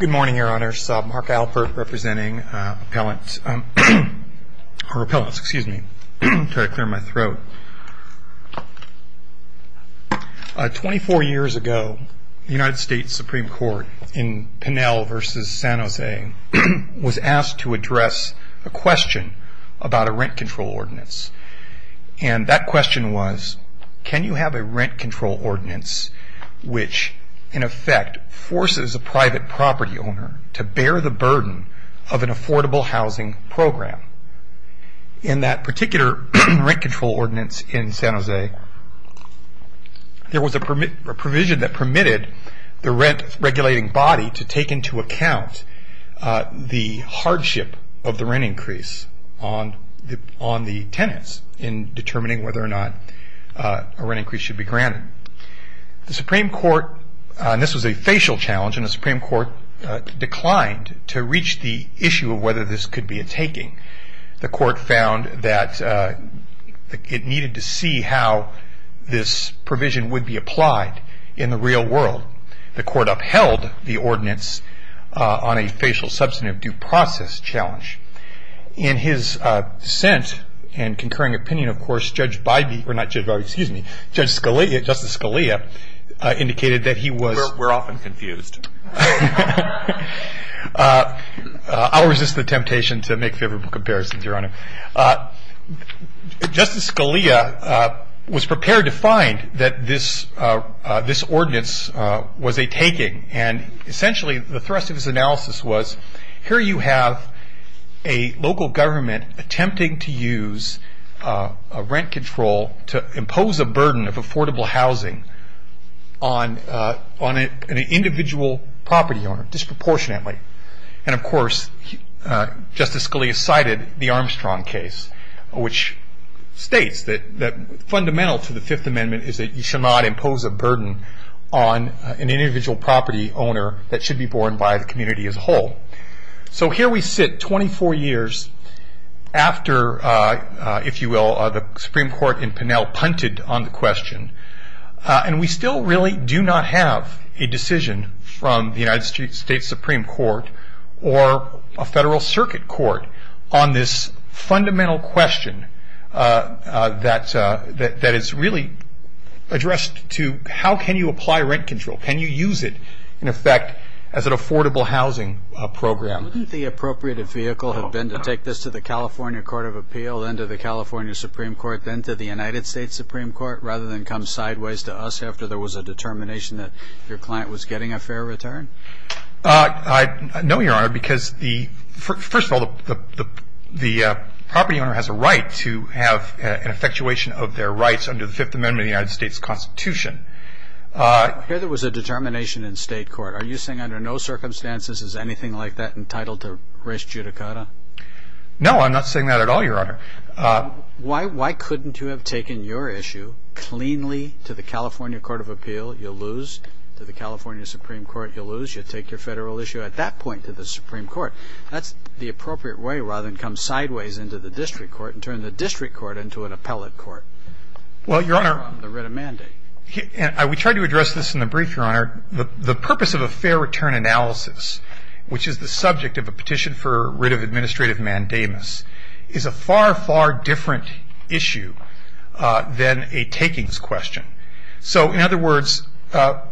Good morning, Your Honors. Mark Alpert, representing repellents, to clear my throat. Twenty-four years ago, the United States Supreme Court, in Pinell v. San Jose, was asked to address a question about a rent control ordinance. And that question was, can you have a rent control ordinance which, in effect, forces a private property owner to bear the burden of an affordable housing program? In that particular rent control ordinance in San Jose, there was a provision that permitted the rent-regulating body to take into account the hardship of the rent increase on the tenants in determining whether or not a rent increase should be granted. The Supreme Court, and this was a facial challenge, declined to reach the issue of whether this could be a taking. The Court found that it needed to see how this provision would be applied in the real world. The Court upheld the ordinance on a facial substantive due process challenge. In his dissent and concurring opinion, of course, Judge Bidey, or not Judge Bidey, excuse me, Judge Scalia, Justice Scalia, indicated that he was... We're often confused. I'll resist the temptation to make favorable comparisons, Your Honor. Justice Scalia was prepared to find that this ordinance was a taking. Essentially, the thrust of his analysis was, here you have a local government attempting to use a rent control to impose a burden of affordable housing on an individual property owner disproportionately. Of course, Justice Scalia cited the Armstrong case, which states that fundamental to the Fifth Amendment is that you should not impose a burden on an individual property owner that should be borne by the community as a whole. Here we sit, 24 years after, if you will, and we still really do not have a decision from the United States Supreme Court or a Federal Circuit Court on this fundamental question that is really addressed to how can you apply rent control? Can you use it, in effect, as an affordable housing program? Wouldn't the appropriate vehicle have been to take this to the California Court of Appeal, then to the California Supreme Court, then to the United States Supreme Court, rather than come sideways to us after there was a determination that your client was getting a fair return? No, Your Honor, because first of all, the property owner has a right to have an effectuation of their rights under the Fifth Amendment of the United States Constitution. Here there was a determination in state court. Are you saying under no circumstances is anything like that entitled to res judicata? No, I'm not saying that at all, Your Honor. Why couldn't you have taken your issue cleanly to the California Court of Appeal? You'll lose. To the California Supreme Court, you'll lose. You take your Federal issue at that point to the Supreme Court. That's the appropriate way, rather than come sideways into the district court and turn the district court into an appellate court. Well, Your Honor. The writ of mandate. We tried to address this in the brief, Your Honor. The purpose of a fair return analysis, which is the subject of a petition for writ of administrative mandamus, is a far, far different issue than a takings question. So, in other words,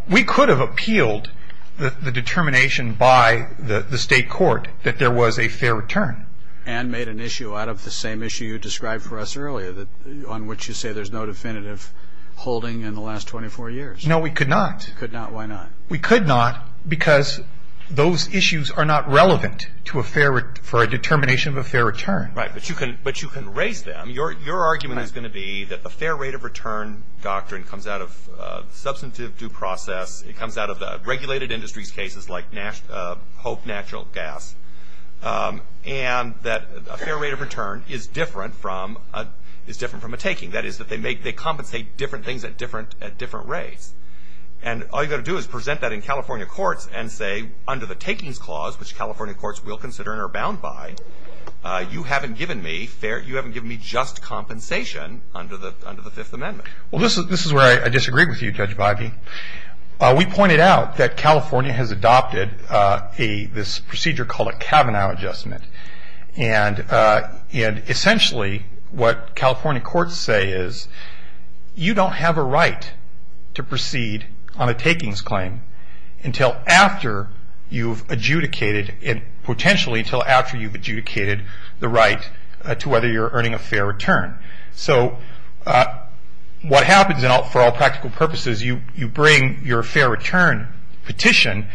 we could have appealed the determination by the state court that there was a fair return. And made an issue out of the same issue you described for us earlier, on which you say there's no definitive holding in the last 24 years. No, we could not. You could not. Why not? We could not because those issues are not relevant for a determination of a fair return. Right. But you can raise them. Your argument is going to be that the fair rate of return doctrine comes out of substantive due process. It comes out of the regulated industries cases, like HOPE natural gas. And that a fair rate of return is different from a taking. That is, that they compensate different things at different rates. And all you've got to do is present that in California courts and say, under the takings clause, which California courts will consider and are bound by, you haven't given me just compensation under the Fifth Amendment. Well, this is where I disagree with you, Judge Bivey. We pointed out that California has adopted this procedure called a Kavanaugh adjustment. And essentially what California courts say is, you don't have a right to proceed on a takings claim until after you've adjudicated, and potentially until after you've adjudicated the right to whether you're earning a fair return. So what happens, and for all practical purposes, you bring your fair return petition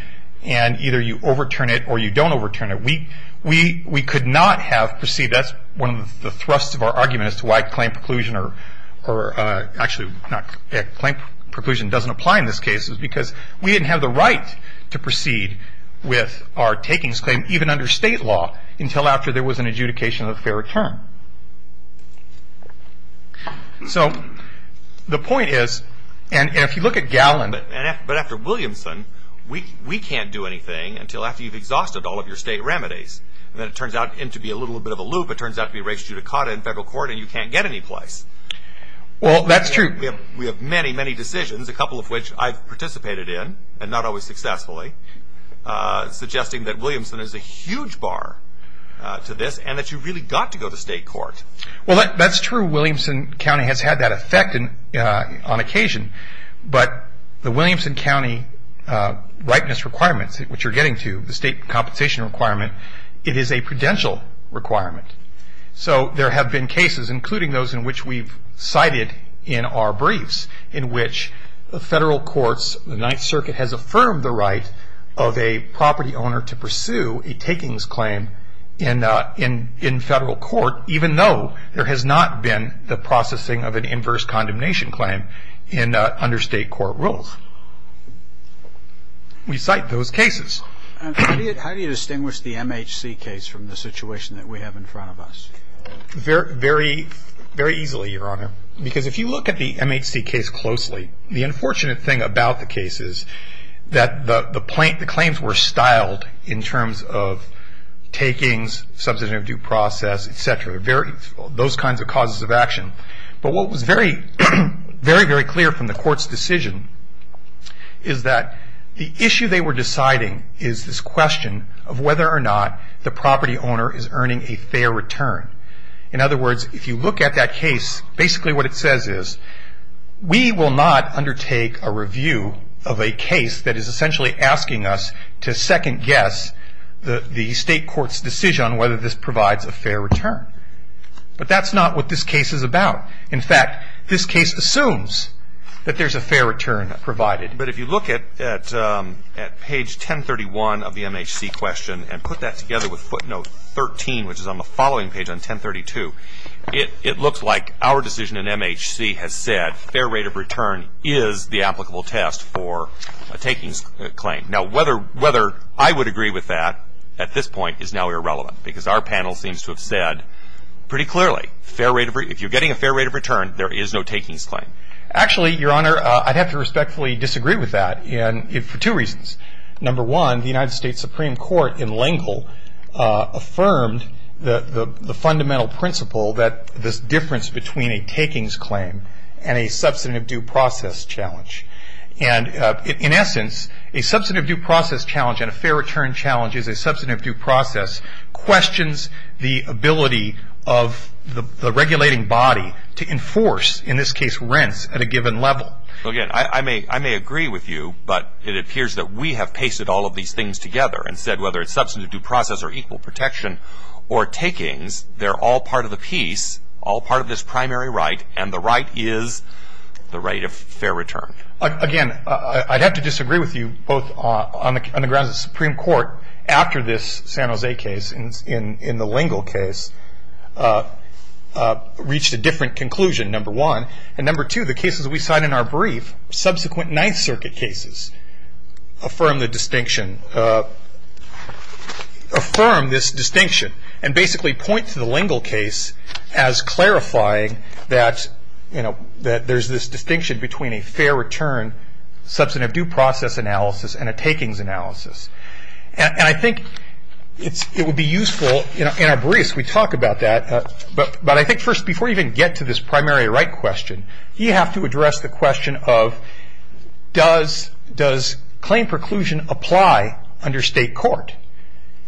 and either you overturn it or you don't overturn it. We could not have proceeded. That's one of the thrusts of our argument as to why claim preclusion or, actually, claim preclusion doesn't apply in this case. It's because we didn't have the right to proceed with our takings claim, even under state law, until after there was an adjudication of a fair return. So the point is, and if you look at Gallin. But after Williamson, we can't do anything until after you've exhausted all of your state remedies. And then it turns out to be a little bit of a loop. It turns out to be race judicata in federal court, and you can't get any place. Well, that's true. We have many, many decisions, a couple of which I've participated in, and not always successfully, suggesting that Williamson is a huge bar to this and that you've really got to go to state court. Well, that's true. Williamson County has had that effect on occasion. But the Williamson County ripeness requirements, which you're getting to, the state compensation requirement, it is a prudential requirement. So there have been cases, including those in which we've cited in our briefs, in which the federal courts, the Ninth Circuit, has affirmed the right of a property owner to pursue a takings claim in federal court, even though there has not been the processing of an inverse condemnation claim under state court rules. We cite those cases. How do you distinguish the MHC case from the situation that we have in front of us? Very easily, Your Honor. Because if you look at the MHC case closely, the unfortunate thing about the case is that the claims were styled in terms of takings, substantive due process, et cetera, those kinds of causes of action. But what was very, very clear from the court's decision is that the issue they were deciding is this question of whether or not the property owner is earning a fair return. In other words, if you look at that case, basically what it says is we will not undertake a review of a case that is essentially asking us to second guess the state court's decision on whether this provides a fair return. But that's not what this case is about. In fact, this case assumes that there's a fair return provided. But if you look at page 1031 of the MHC question and put that together with footnote 13, which is on the following page on 1032, it looks like our decision in MHC has said fair rate of return is the applicable test for a takings claim. Now, whether I would agree with that at this point is now irrelevant because our panel seems to have said pretty clearly if you're getting a fair rate of return, there is no takings claim. Actually, Your Honor, I'd have to respectfully disagree with that for two reasons. Number one, the United States Supreme Court in L'Engle affirmed the fundamental principle that this difference between a takings claim and a substantive due process challenge. And in essence, a substantive due process challenge and a fair return challenge is a substantive due process questions the ability of the regulating body to enforce, in this case, rents at a given level. Again, I may agree with you, but it appears that we have pasted all of these things together and said whether it's substantive due process or equal protection or takings, they're all part of the piece, all part of this primary right, and the right is the right of fair return. Again, I'd have to disagree with you both on the grounds of the Supreme Court after this San Jose case in the L'Engle case reached a different conclusion, number one. And number two, the cases we cite in our brief, subsequent Ninth Circuit cases, affirm this distinction and basically point to the L'Engle case as clarifying that there's this distinction between a fair return substantive due process analysis and a takings analysis. And I think it would be useful in our briefs we talk about that, but I think first before you even get to this primary right question, you have to address the question of does claim preclusion apply under state court?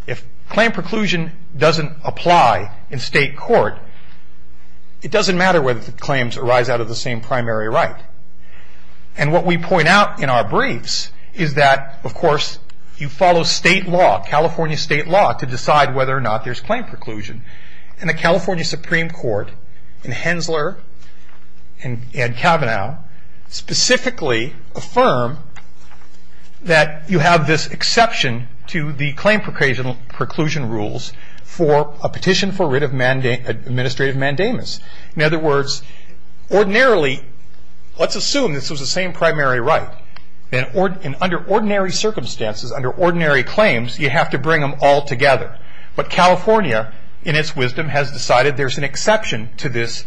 If claim preclusion doesn't apply in state court, it doesn't matter whether the claims arise out of the same primary right. And what we point out in our briefs is that, of course, you follow state law, California state law, to decide whether or not there's claim preclusion. And the California Supreme Court and Hensler and Kavanaugh specifically affirm that you have this exception to the claim preclusion rules for a petition for writ of administrative mandamus. In other words, ordinarily, let's assume this was the same primary right. And under ordinary circumstances, under ordinary claims, you have to bring them all together. But California, in its wisdom, has decided there's an exception to this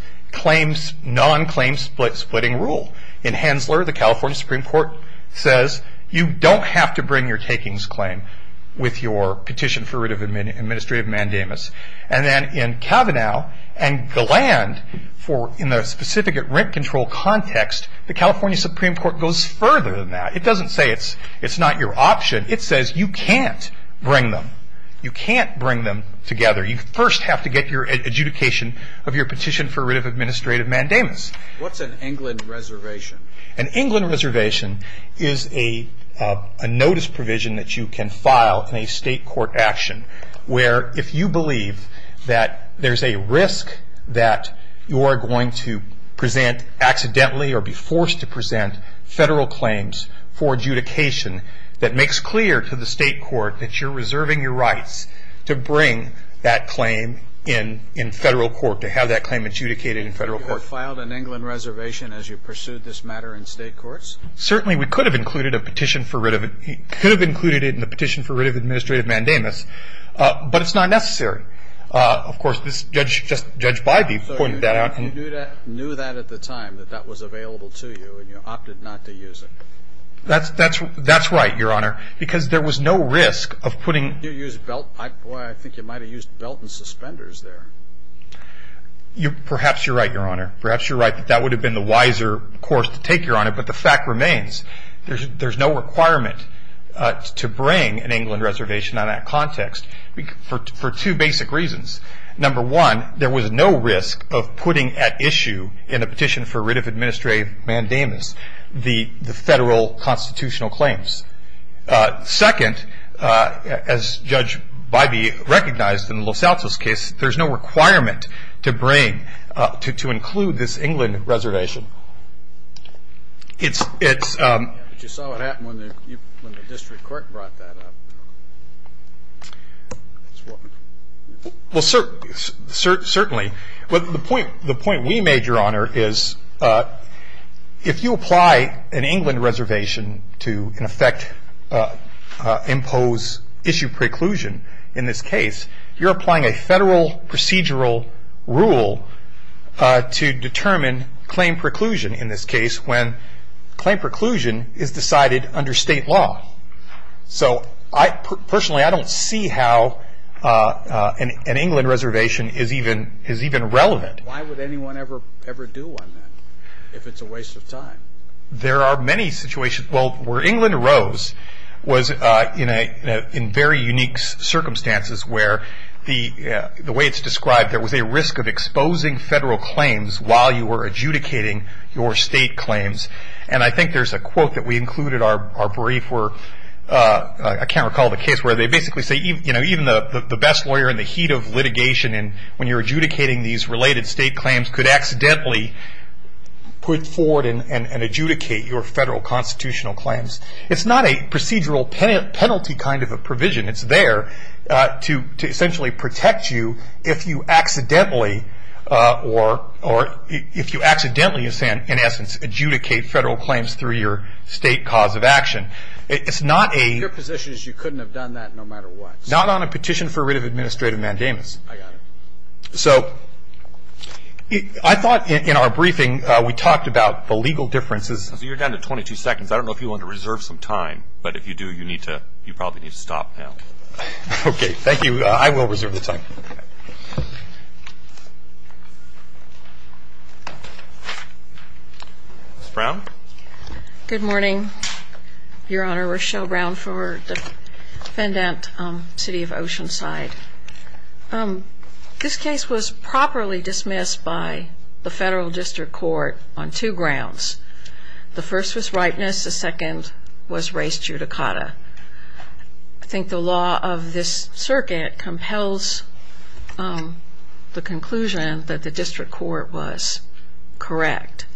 non-claim splitting rule. In Hensler, the California Supreme Court says, you don't have to bring your takings claim with your petition for writ of administrative mandamus. And then in Kavanaugh and the land, in the specific rent control context, the California Supreme Court goes further than that. It doesn't say it's not your option. It says you can't bring them. You can't bring them together. You first have to get your adjudication of your petition for writ of administrative mandamus. What's an England reservation? An England reservation is a notice provision that you can file in a state court action where if you believe that there's a risk that you are going to present accidentally or be forced to present federal claims for adjudication that makes clear to the state court that you're reserving your rights to bring that claim in federal court, to have that claim adjudicated in federal court. So you filed an England reservation as you pursued this matter in state courts? Certainly. We could have included a petition for writ of administrative mandamus, but it's not necessary. Of course, Judge Bybee pointed that out. So you knew that at the time, that that was available to you, and you opted not to use it? That's right, Your Honor, because there was no risk of putting... Did you use belt? Boy, I think you might have used belt and suspenders there. Perhaps you're right, Your Honor. Perhaps you're right that that would have been the wiser course to take, but the fact remains. There's no requirement to bring an England reservation on that context for two basic reasons. Number one, there was no risk of putting at issue in a petition for writ of administrative mandamus the federal constitutional claims. Second, as Judge Bybee recognized in the Los Altos case, there's no requirement to bring... to include this England reservation. It's... But you saw what happened when the district court brought that up. Well, certainly. The point we made, Your Honor, is if you apply an England reservation to, in effect, impose issue preclusion in this case, you're applying a federal procedural rule to determine claim preclusion in this case when claim preclusion is decided under state law. So, personally, I don't see how an England reservation is even relevant. Why would anyone ever do one, then, if it's a waste of time? There are many situations... Well, where England arose was in very unique circumstances where, the way it's described, there was a risk of exposing federal claims while you were adjudicating your state claims. And I think there's a quote that we included in our brief where... I can't recall the case where they basically say even the best lawyer in the heat of litigation when you're adjudicating these related state claims could accidentally put forward and adjudicate your federal constitutional claims. It's not a procedural penalty kind of a provision. It's there to essentially protect you if you accidentally, or if you accidentally, in essence, adjudicate federal claims through your state cause of action. It's not a... Your position is you couldn't have done that no matter what. Not on a petition for writ of administrative mandamus. I got it. So, I thought in our briefing we talked about the legal differences. You're down to 22 seconds. I don't know if you want to reserve some time, but if you do, you probably need to stop now. Okay. Thank you. I will reserve the time. Ms. Brown? Good morning, Your Honor. Rochelle Brown for the defendant, City of Oceanside. This case was properly dismissed by the federal district court on two grounds. The first was ripeness. The second was res judicata. I think the law of this circuit compels the conclusion that the district court was correct.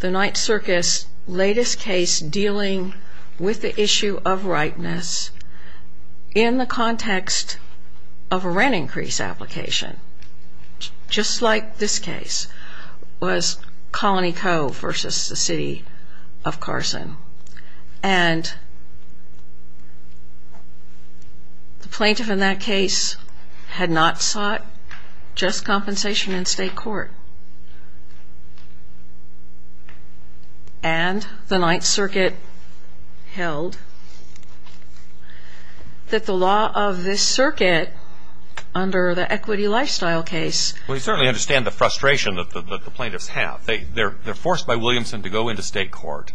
The Ninth Circus' latest case dealing with the issue of ripeness in the context of a rent increase application, just like this case, was Colony Cove versus the City of Carson. And the plaintiff in that case had not sought just compensation in state court. And the Ninth Circuit held that the law of this circuit under the equity lifestyle case. We certainly understand the frustration that the plaintiffs have. They're forced by Williamson to go into state court.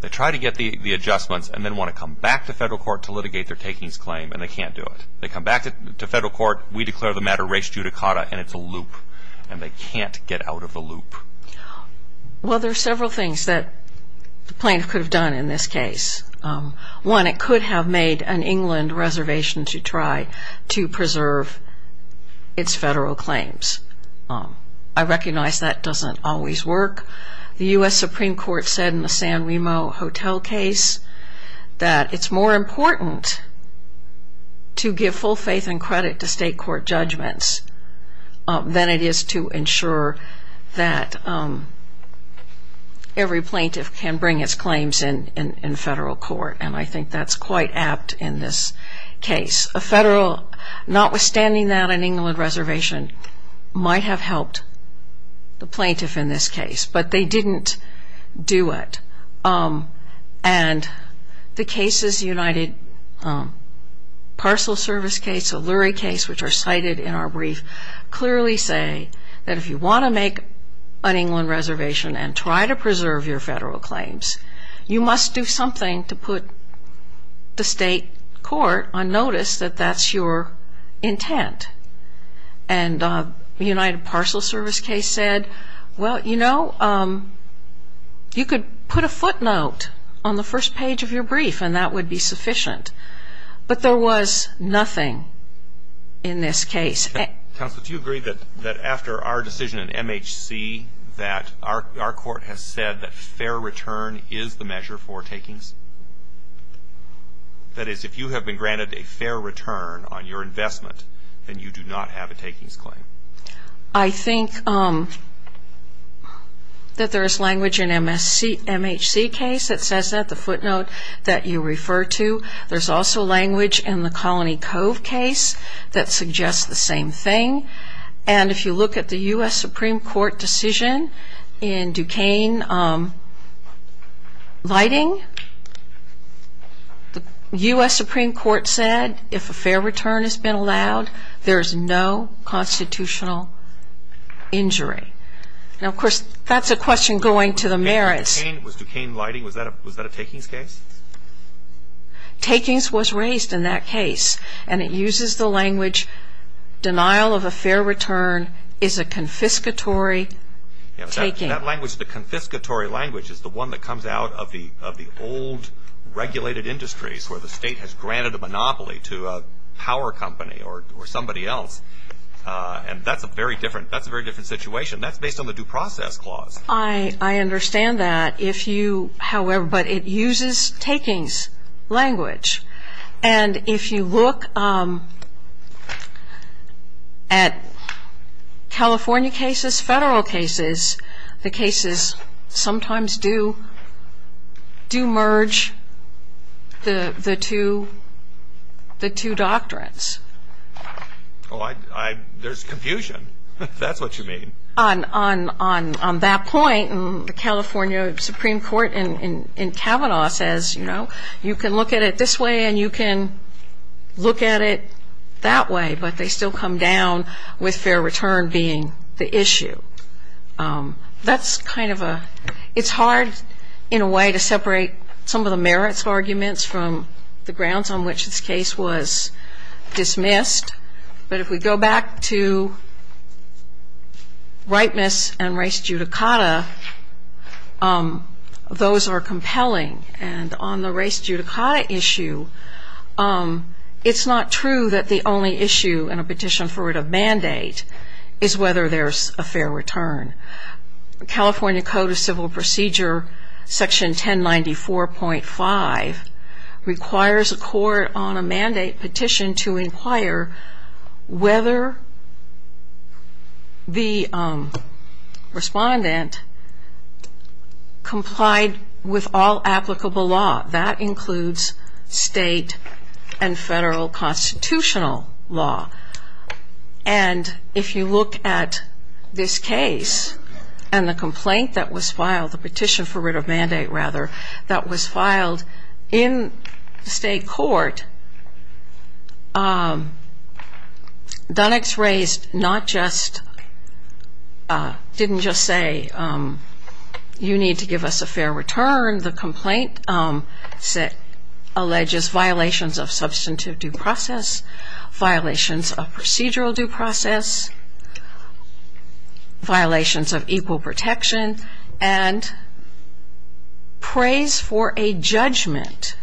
They try to get the adjustments and then want to come back to federal court to litigate their takings claim, and they can't do it. They come back to federal court, we declare the matter res judicata, and it's a loop. And they can't get out of the loop. Well, there are several things that the plaintiff could have done in this case. One, it could have made an England reservation to try to preserve its federal claims. I recognize that doesn't always work. The U.S. Supreme Court said in the San Remo Hotel case that it's more important to give full faith and credit to state court judgments than it is to ensure that every plaintiff can bring its claims in federal court. And I think that's quite apt in this case. A federal, notwithstanding that, an England reservation might have helped the plaintiff in this case, but they didn't do it. And the cases, the United Parcel Service case, the Lurie case, which are cited in our brief, clearly say that if you want to make an England reservation and try to preserve your federal claims, you must do something to put the state court on notice that that's your intent. And the United Parcel Service case said, well, you know, you could put a footnote on the first page of your brief and that would be sufficient. But there was nothing in this case. Counsel, do you agree that after our decision in MHC that our court has said that fair return is the measure for takings? That is, if you have been granted a fair return on your investment, then you do not have a takings claim. I think that there is language in MHC case that says that, the footnote that you refer to. There's also language in the Colony Cove case that suggests the same thing. And if you look at the U.S. Supreme Court decision in Duquesne lighting, the U.S. Supreme Court said if a fair return has been allowed, there is no constitutional injury. Now, of course, that's a question going to the merits. Was Duquesne lighting, was that a takings case? Takings was raised in that case. And it uses the language, denial of a fair return is a confiscatory taking. That language, the confiscatory language, is the one that comes out of the old regulated industries where the state has granted a monopoly to a power company or somebody else. And that's a very different situation. That's based on the due process clause. I understand that. If you, however, but it uses takings language. And if you look at California cases, federal cases, the cases sometimes do merge the two doctrines. Oh, I, there's confusion. That's what you mean. On that point, the California Supreme Court in Kavanaugh says, you know, you can look at it this way and you can look at it that way, but they still come down with fair return being the issue. That's kind of a, it's hard in a way to separate some of the merits arguments from the grounds on which this case was dismissed. But if we go back to rightness and race judicata, those are compelling. And on the race judicata issue, it's not true that the only issue in a petition for a mandate is whether there's a fair return. California Code of Civil Procedure Section 1094.5 requires a court on a mandate petition to inquire whether the respondent complied with all applicable law. That includes state and federal constitutional law. And if you look at this case and the complaint that was filed, the petition for writ of mandate, rather, that was filed in the state court, Dunnex raised not just, didn't just say, you need to give us a fair return. The complaint alleges violations of substantive due process, violations of procedural due process, violations of equal protection, and prays for a judgment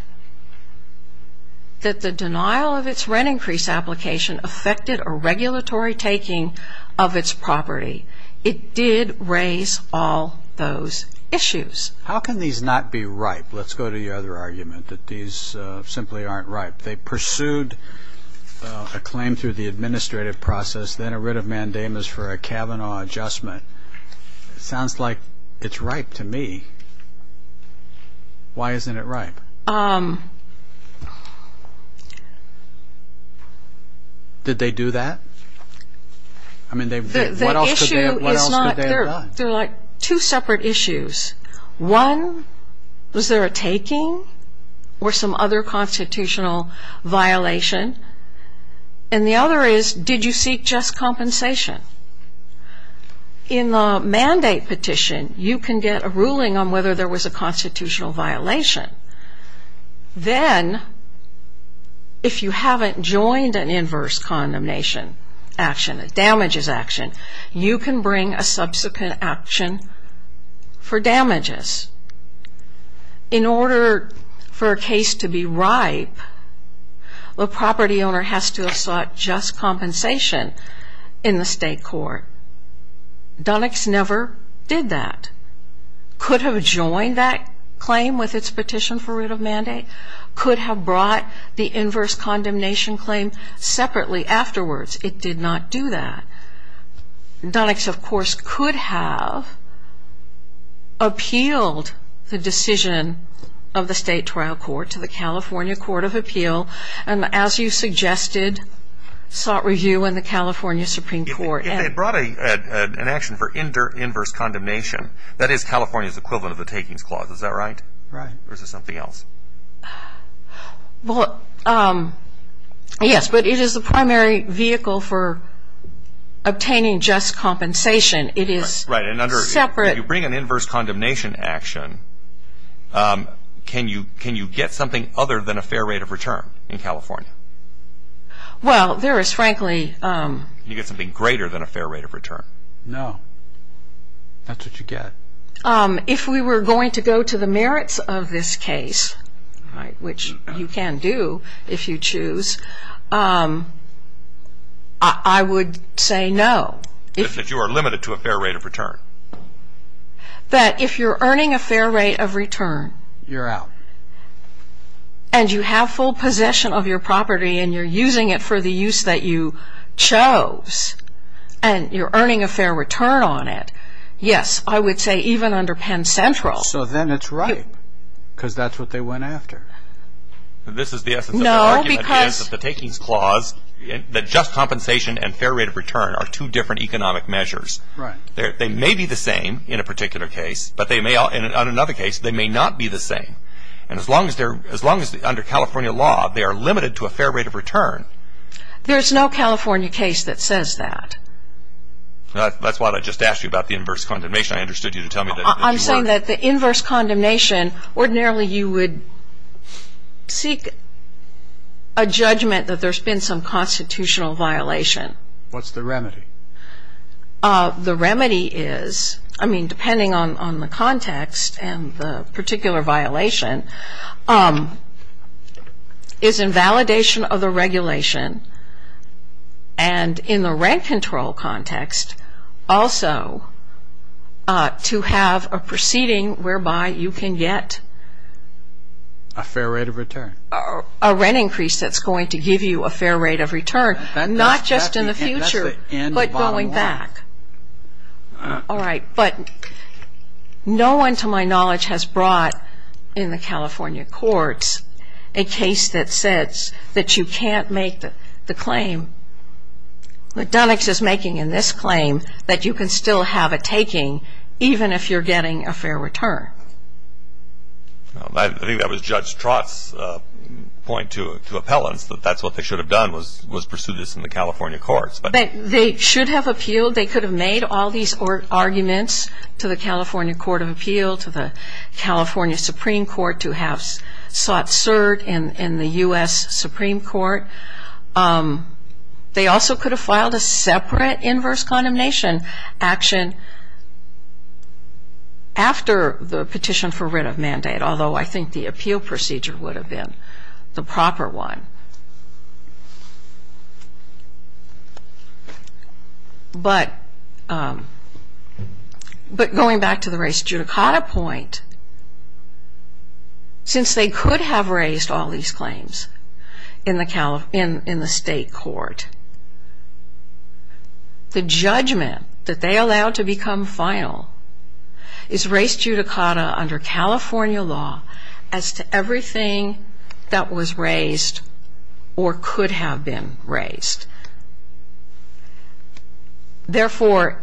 that the denial of its rent increase application affected a regulatory taking of its property. It did raise all those issues. How can these not be ripe? Let's go to the other argument that these simply aren't ripe. They pursued a claim through the administrative process, then a writ of mandamus for a Kavanaugh adjustment. It sounds like it's ripe to me. Why isn't it ripe? Did they do that? I mean, what else could they have done? They're like two separate issues. One, was there a taking or some other constitutional violation? And the other is, did you seek just compensation? In the mandate petition, you can get a ruling on whether there was a constitutional violation. Then, if you haven't joined an inverse condemnation action, a damages action, you can bring a subsequent action for damages. In order for a case to be ripe, the property owner has to have sought just compensation in the state court. Dunnix never did that. Could have joined that claim with its petition for writ of mandate. Could have brought the inverse condemnation claim separately afterwards. It did not do that. Dunnix, of course, could have appealed the decision of the state trial court to the California Court of Appeal, and as you suggested, sought review in the California Supreme Court. If they brought an action for inverse condemnation, that is California's equivalent of the takings clause. Is that right? Right. Or is it something else? Well, yes. But it is the primary vehicle for obtaining just compensation. It is separate. Right. If you bring an inverse condemnation action, can you get something other than a fair rate of return in California? Well, there is frankly... You get something greater than a fair rate of return. No. That's what you get. If we were going to go to the merits of this case, which you can do if you choose, I would say no. If you are limited to a fair rate of return. That if you're earning a fair rate of return. You're out. And you have full possession of your property and you're using it for the use that you chose, and you're earning a fair return on it, yes, I would say even under Penn Central. So then it's right because that's what they went after. No, because... This is the essence of the argument against the takings clause that just compensation and fair rate of return are two different economic measures. Right. They may be the same in a particular case, but in another case they may not be the same. And as long as under California law they are limited to a fair rate of return... There's no California case that says that. That's why I just asked you about the inverse condemnation. I understood you to tell me that you were... I'm saying that the inverse condemnation, ordinarily you would seek a judgment that there's been some constitutional violation. What's the remedy? The remedy is, I mean, depending on the context and the particular violation, is invalidation of the regulation. And in the rent control context, also to have a proceeding whereby you can get... A fair rate of return. A rent increase that's going to give you a fair rate of return, not just in the future, but going back. All right. But no one to my knowledge has brought in the California courts a case that says that you can't make the claim. McDonough's is making in this claim that you can still have a taking, even if you're getting a fair return. I think that was Judge Trott's point to appellants, that that's what they should have done was pursue this in the California courts. They should have appealed. They should have appealed to the California Supreme Court to have sought cert in the U.S. Supreme Court. They also could have filed a separate inverse condemnation action after the petition for writ of mandate, although I think the appeal procedure would have been the proper one. But going back to the race judicata point, since they could have raised all these claims in the state court, the judgment that they allowed to become final is race judicata under California law as to everything that was raised or could have been raised. Therefore,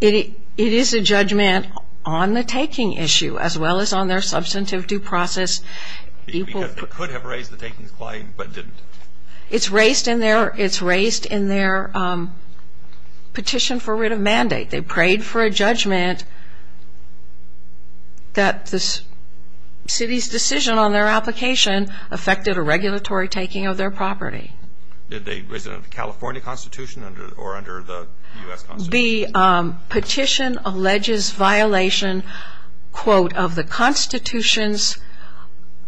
it is a judgment on the taking issue as well as on their substantive due process. Because they could have raised the taking claim but didn't. It's raised in their petition for writ of mandate. They prayed for a judgment that the city's decision on their application affected a regulatory taking of their property. Was it under the California Constitution or under the U.S. Constitution? The petition alleges violation, quote, of the constitutions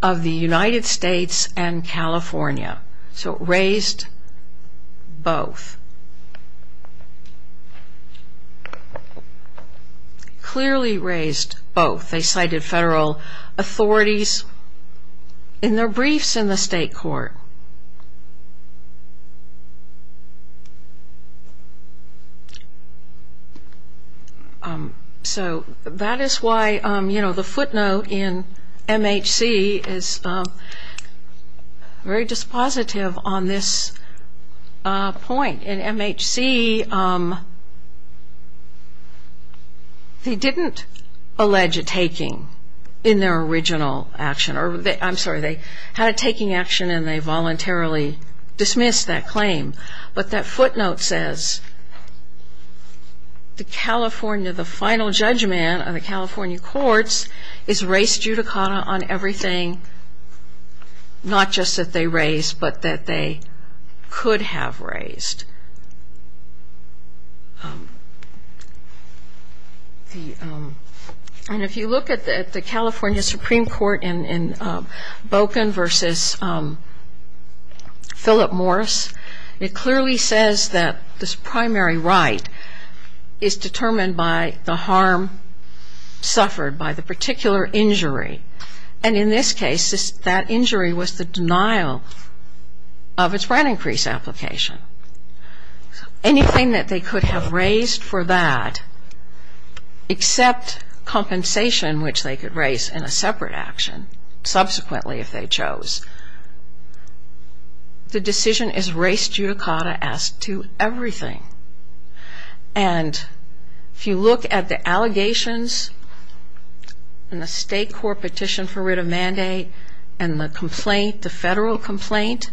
of the United States and California. So it raised both. Clearly raised both. They cited federal authorities in their briefs in the state court. So that is why, you know, the footnote in MHC is very dispositive on this point. In MHC, they didn't allege a taking in their original action. I'm sorry, they had a taking action and they voluntarily dismissed that claim. But that footnote says the final judgment of the California courts is race judicata on everything not just that they raised but that they could have raised. And if you look at the California Supreme Court in Boken versus Philip Morris, it clearly says that this primary right is determined by the harm suffered, by the particular injury. And in this case, that injury was the denial of its right increase application. Anything that they could have raised for that except compensation, which they could raise in a separate action subsequently if they chose, the decision is race judicata as to everything. And if you look at the allegations in the state court petition for writ of mandate and the federal complaint,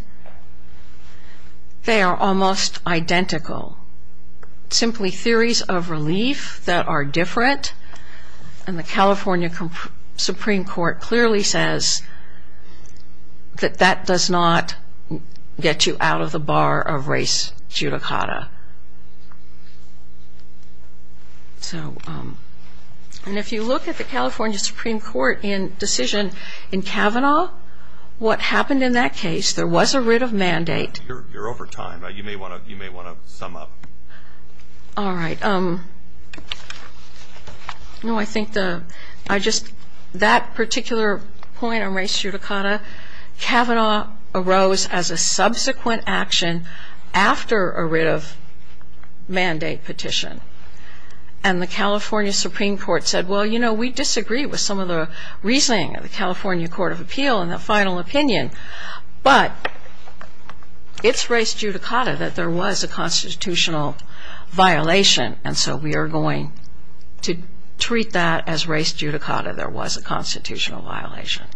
they are almost identical, simply theories of relief that are different. And the California Supreme Court clearly says that that does not get you out of the bar of race judicata. And if you look at the California Supreme Court in decision in Kavanaugh, what happened in that case, there was a writ of mandate. You're over time. You may want to sum up. All right. No, I think that particular point on race judicata, there was a constitutional violation. And so we are going to treat that as race judicata. There was a constitutional violation.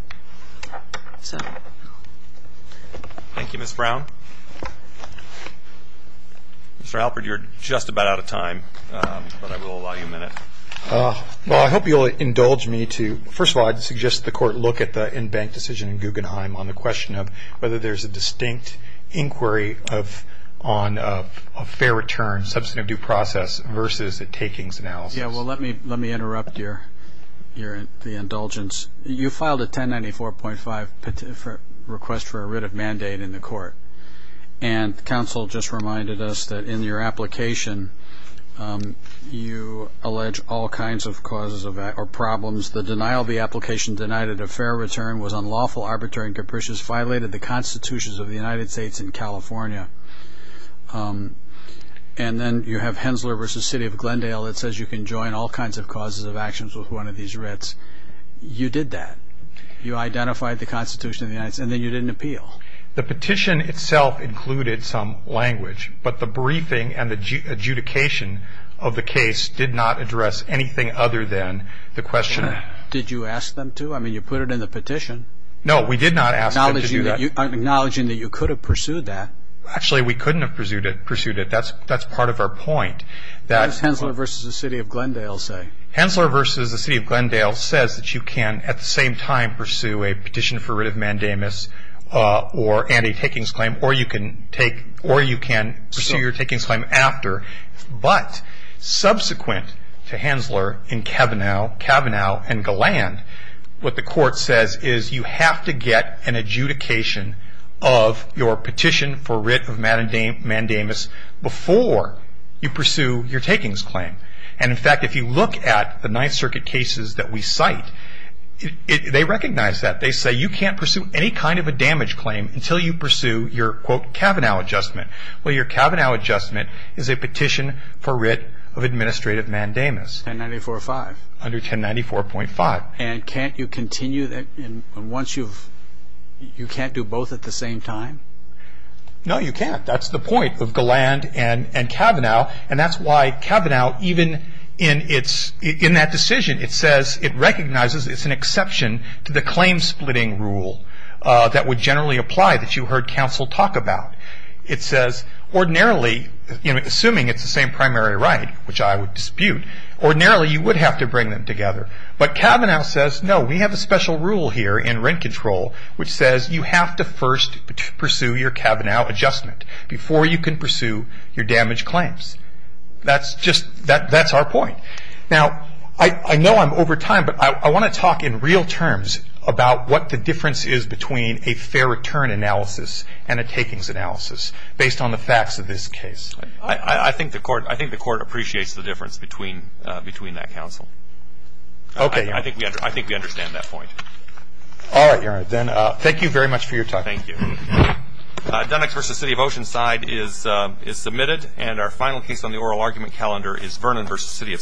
So. Thank you. Thank you. Thank you. Thank you. Thank you. Mr. Alford, you're just about out of time, but I will allow you a minute. Well, I hope you'll indulge me to, first of all, I'd suggest the court look at the in-bank decision in Guggenheim on the question of whether there's a distinct inquiry on a fair return, substantive due process, versus a takings analysis. Yeah, well, let me interrupt your indulgence. You filed a 1094.5 request for a writ of mandate in the court. And counsel just reminded us that in your application, you allege all kinds of causes or problems. The denial of the application denied it a fair return, was unlawful, arbitrary, and capricious, violated the constitutions of the United States and California. And then you have Hensler v. City of Glendale that says you can join all kinds of causes of actions with one of these writs. You did that. You identified the constitution of the United States. And then you didn't appeal. The petition itself included some language, but the briefing and the adjudication of the case did not address anything other than the question. Did you ask them to? I mean, you put it in the petition. No, we did not ask them to do that. Acknowledging that you could have pursued that. Actually, we couldn't have pursued it. That's part of our point. What does Hensler v. City of Glendale say? Hensler v. City of Glendale says that you can, at the same time, pursue a petition for writ of mandamus and a takings claim, or you can pursue your takings claim after. But subsequent to Hensler in Kavanaugh and Galland, what the court says is you have to get an adjudication of your petition for writ of mandamus before you pursue your takings claim. And, in fact, if you look at the Ninth Circuit cases that we cite, they recognize that. They say you can't pursue any kind of a damage claim until you pursue your, quote, Kavanaugh adjustment. Well, your Kavanaugh adjustment is a petition for writ of administrative mandamus. 1094.5. Under 1094.5. And can't you continue that once you've, you can't do both at the same time? No, you can't. That's the point of Galland and Kavanaugh, and that's why Kavanaugh, even in that decision, it says it recognizes it's an exception to the claim-splitting rule that would generally apply that you heard counsel talk about. It says ordinarily, assuming it's the same primary right, which I would dispute, ordinarily you would have to bring them together. But Kavanaugh says, no, we have a special rule here in rent control which says you have to first pursue your Kavanaugh adjustment before you can pursue your damage claims. That's just, that's our point. Now, I know I'm over time, but I want to talk in real terms about what the difference is between a fair return analysis and a takings analysis based on the facts of this case. I think the court appreciates the difference between that counsel. Okay. I think we understand that point. All right, then. Thank you very much for your time. Thank you. Dunnex v. City of Oceanside is submitted, and our final case on the oral argument calendar is Vernon v. City of Santa Barbara.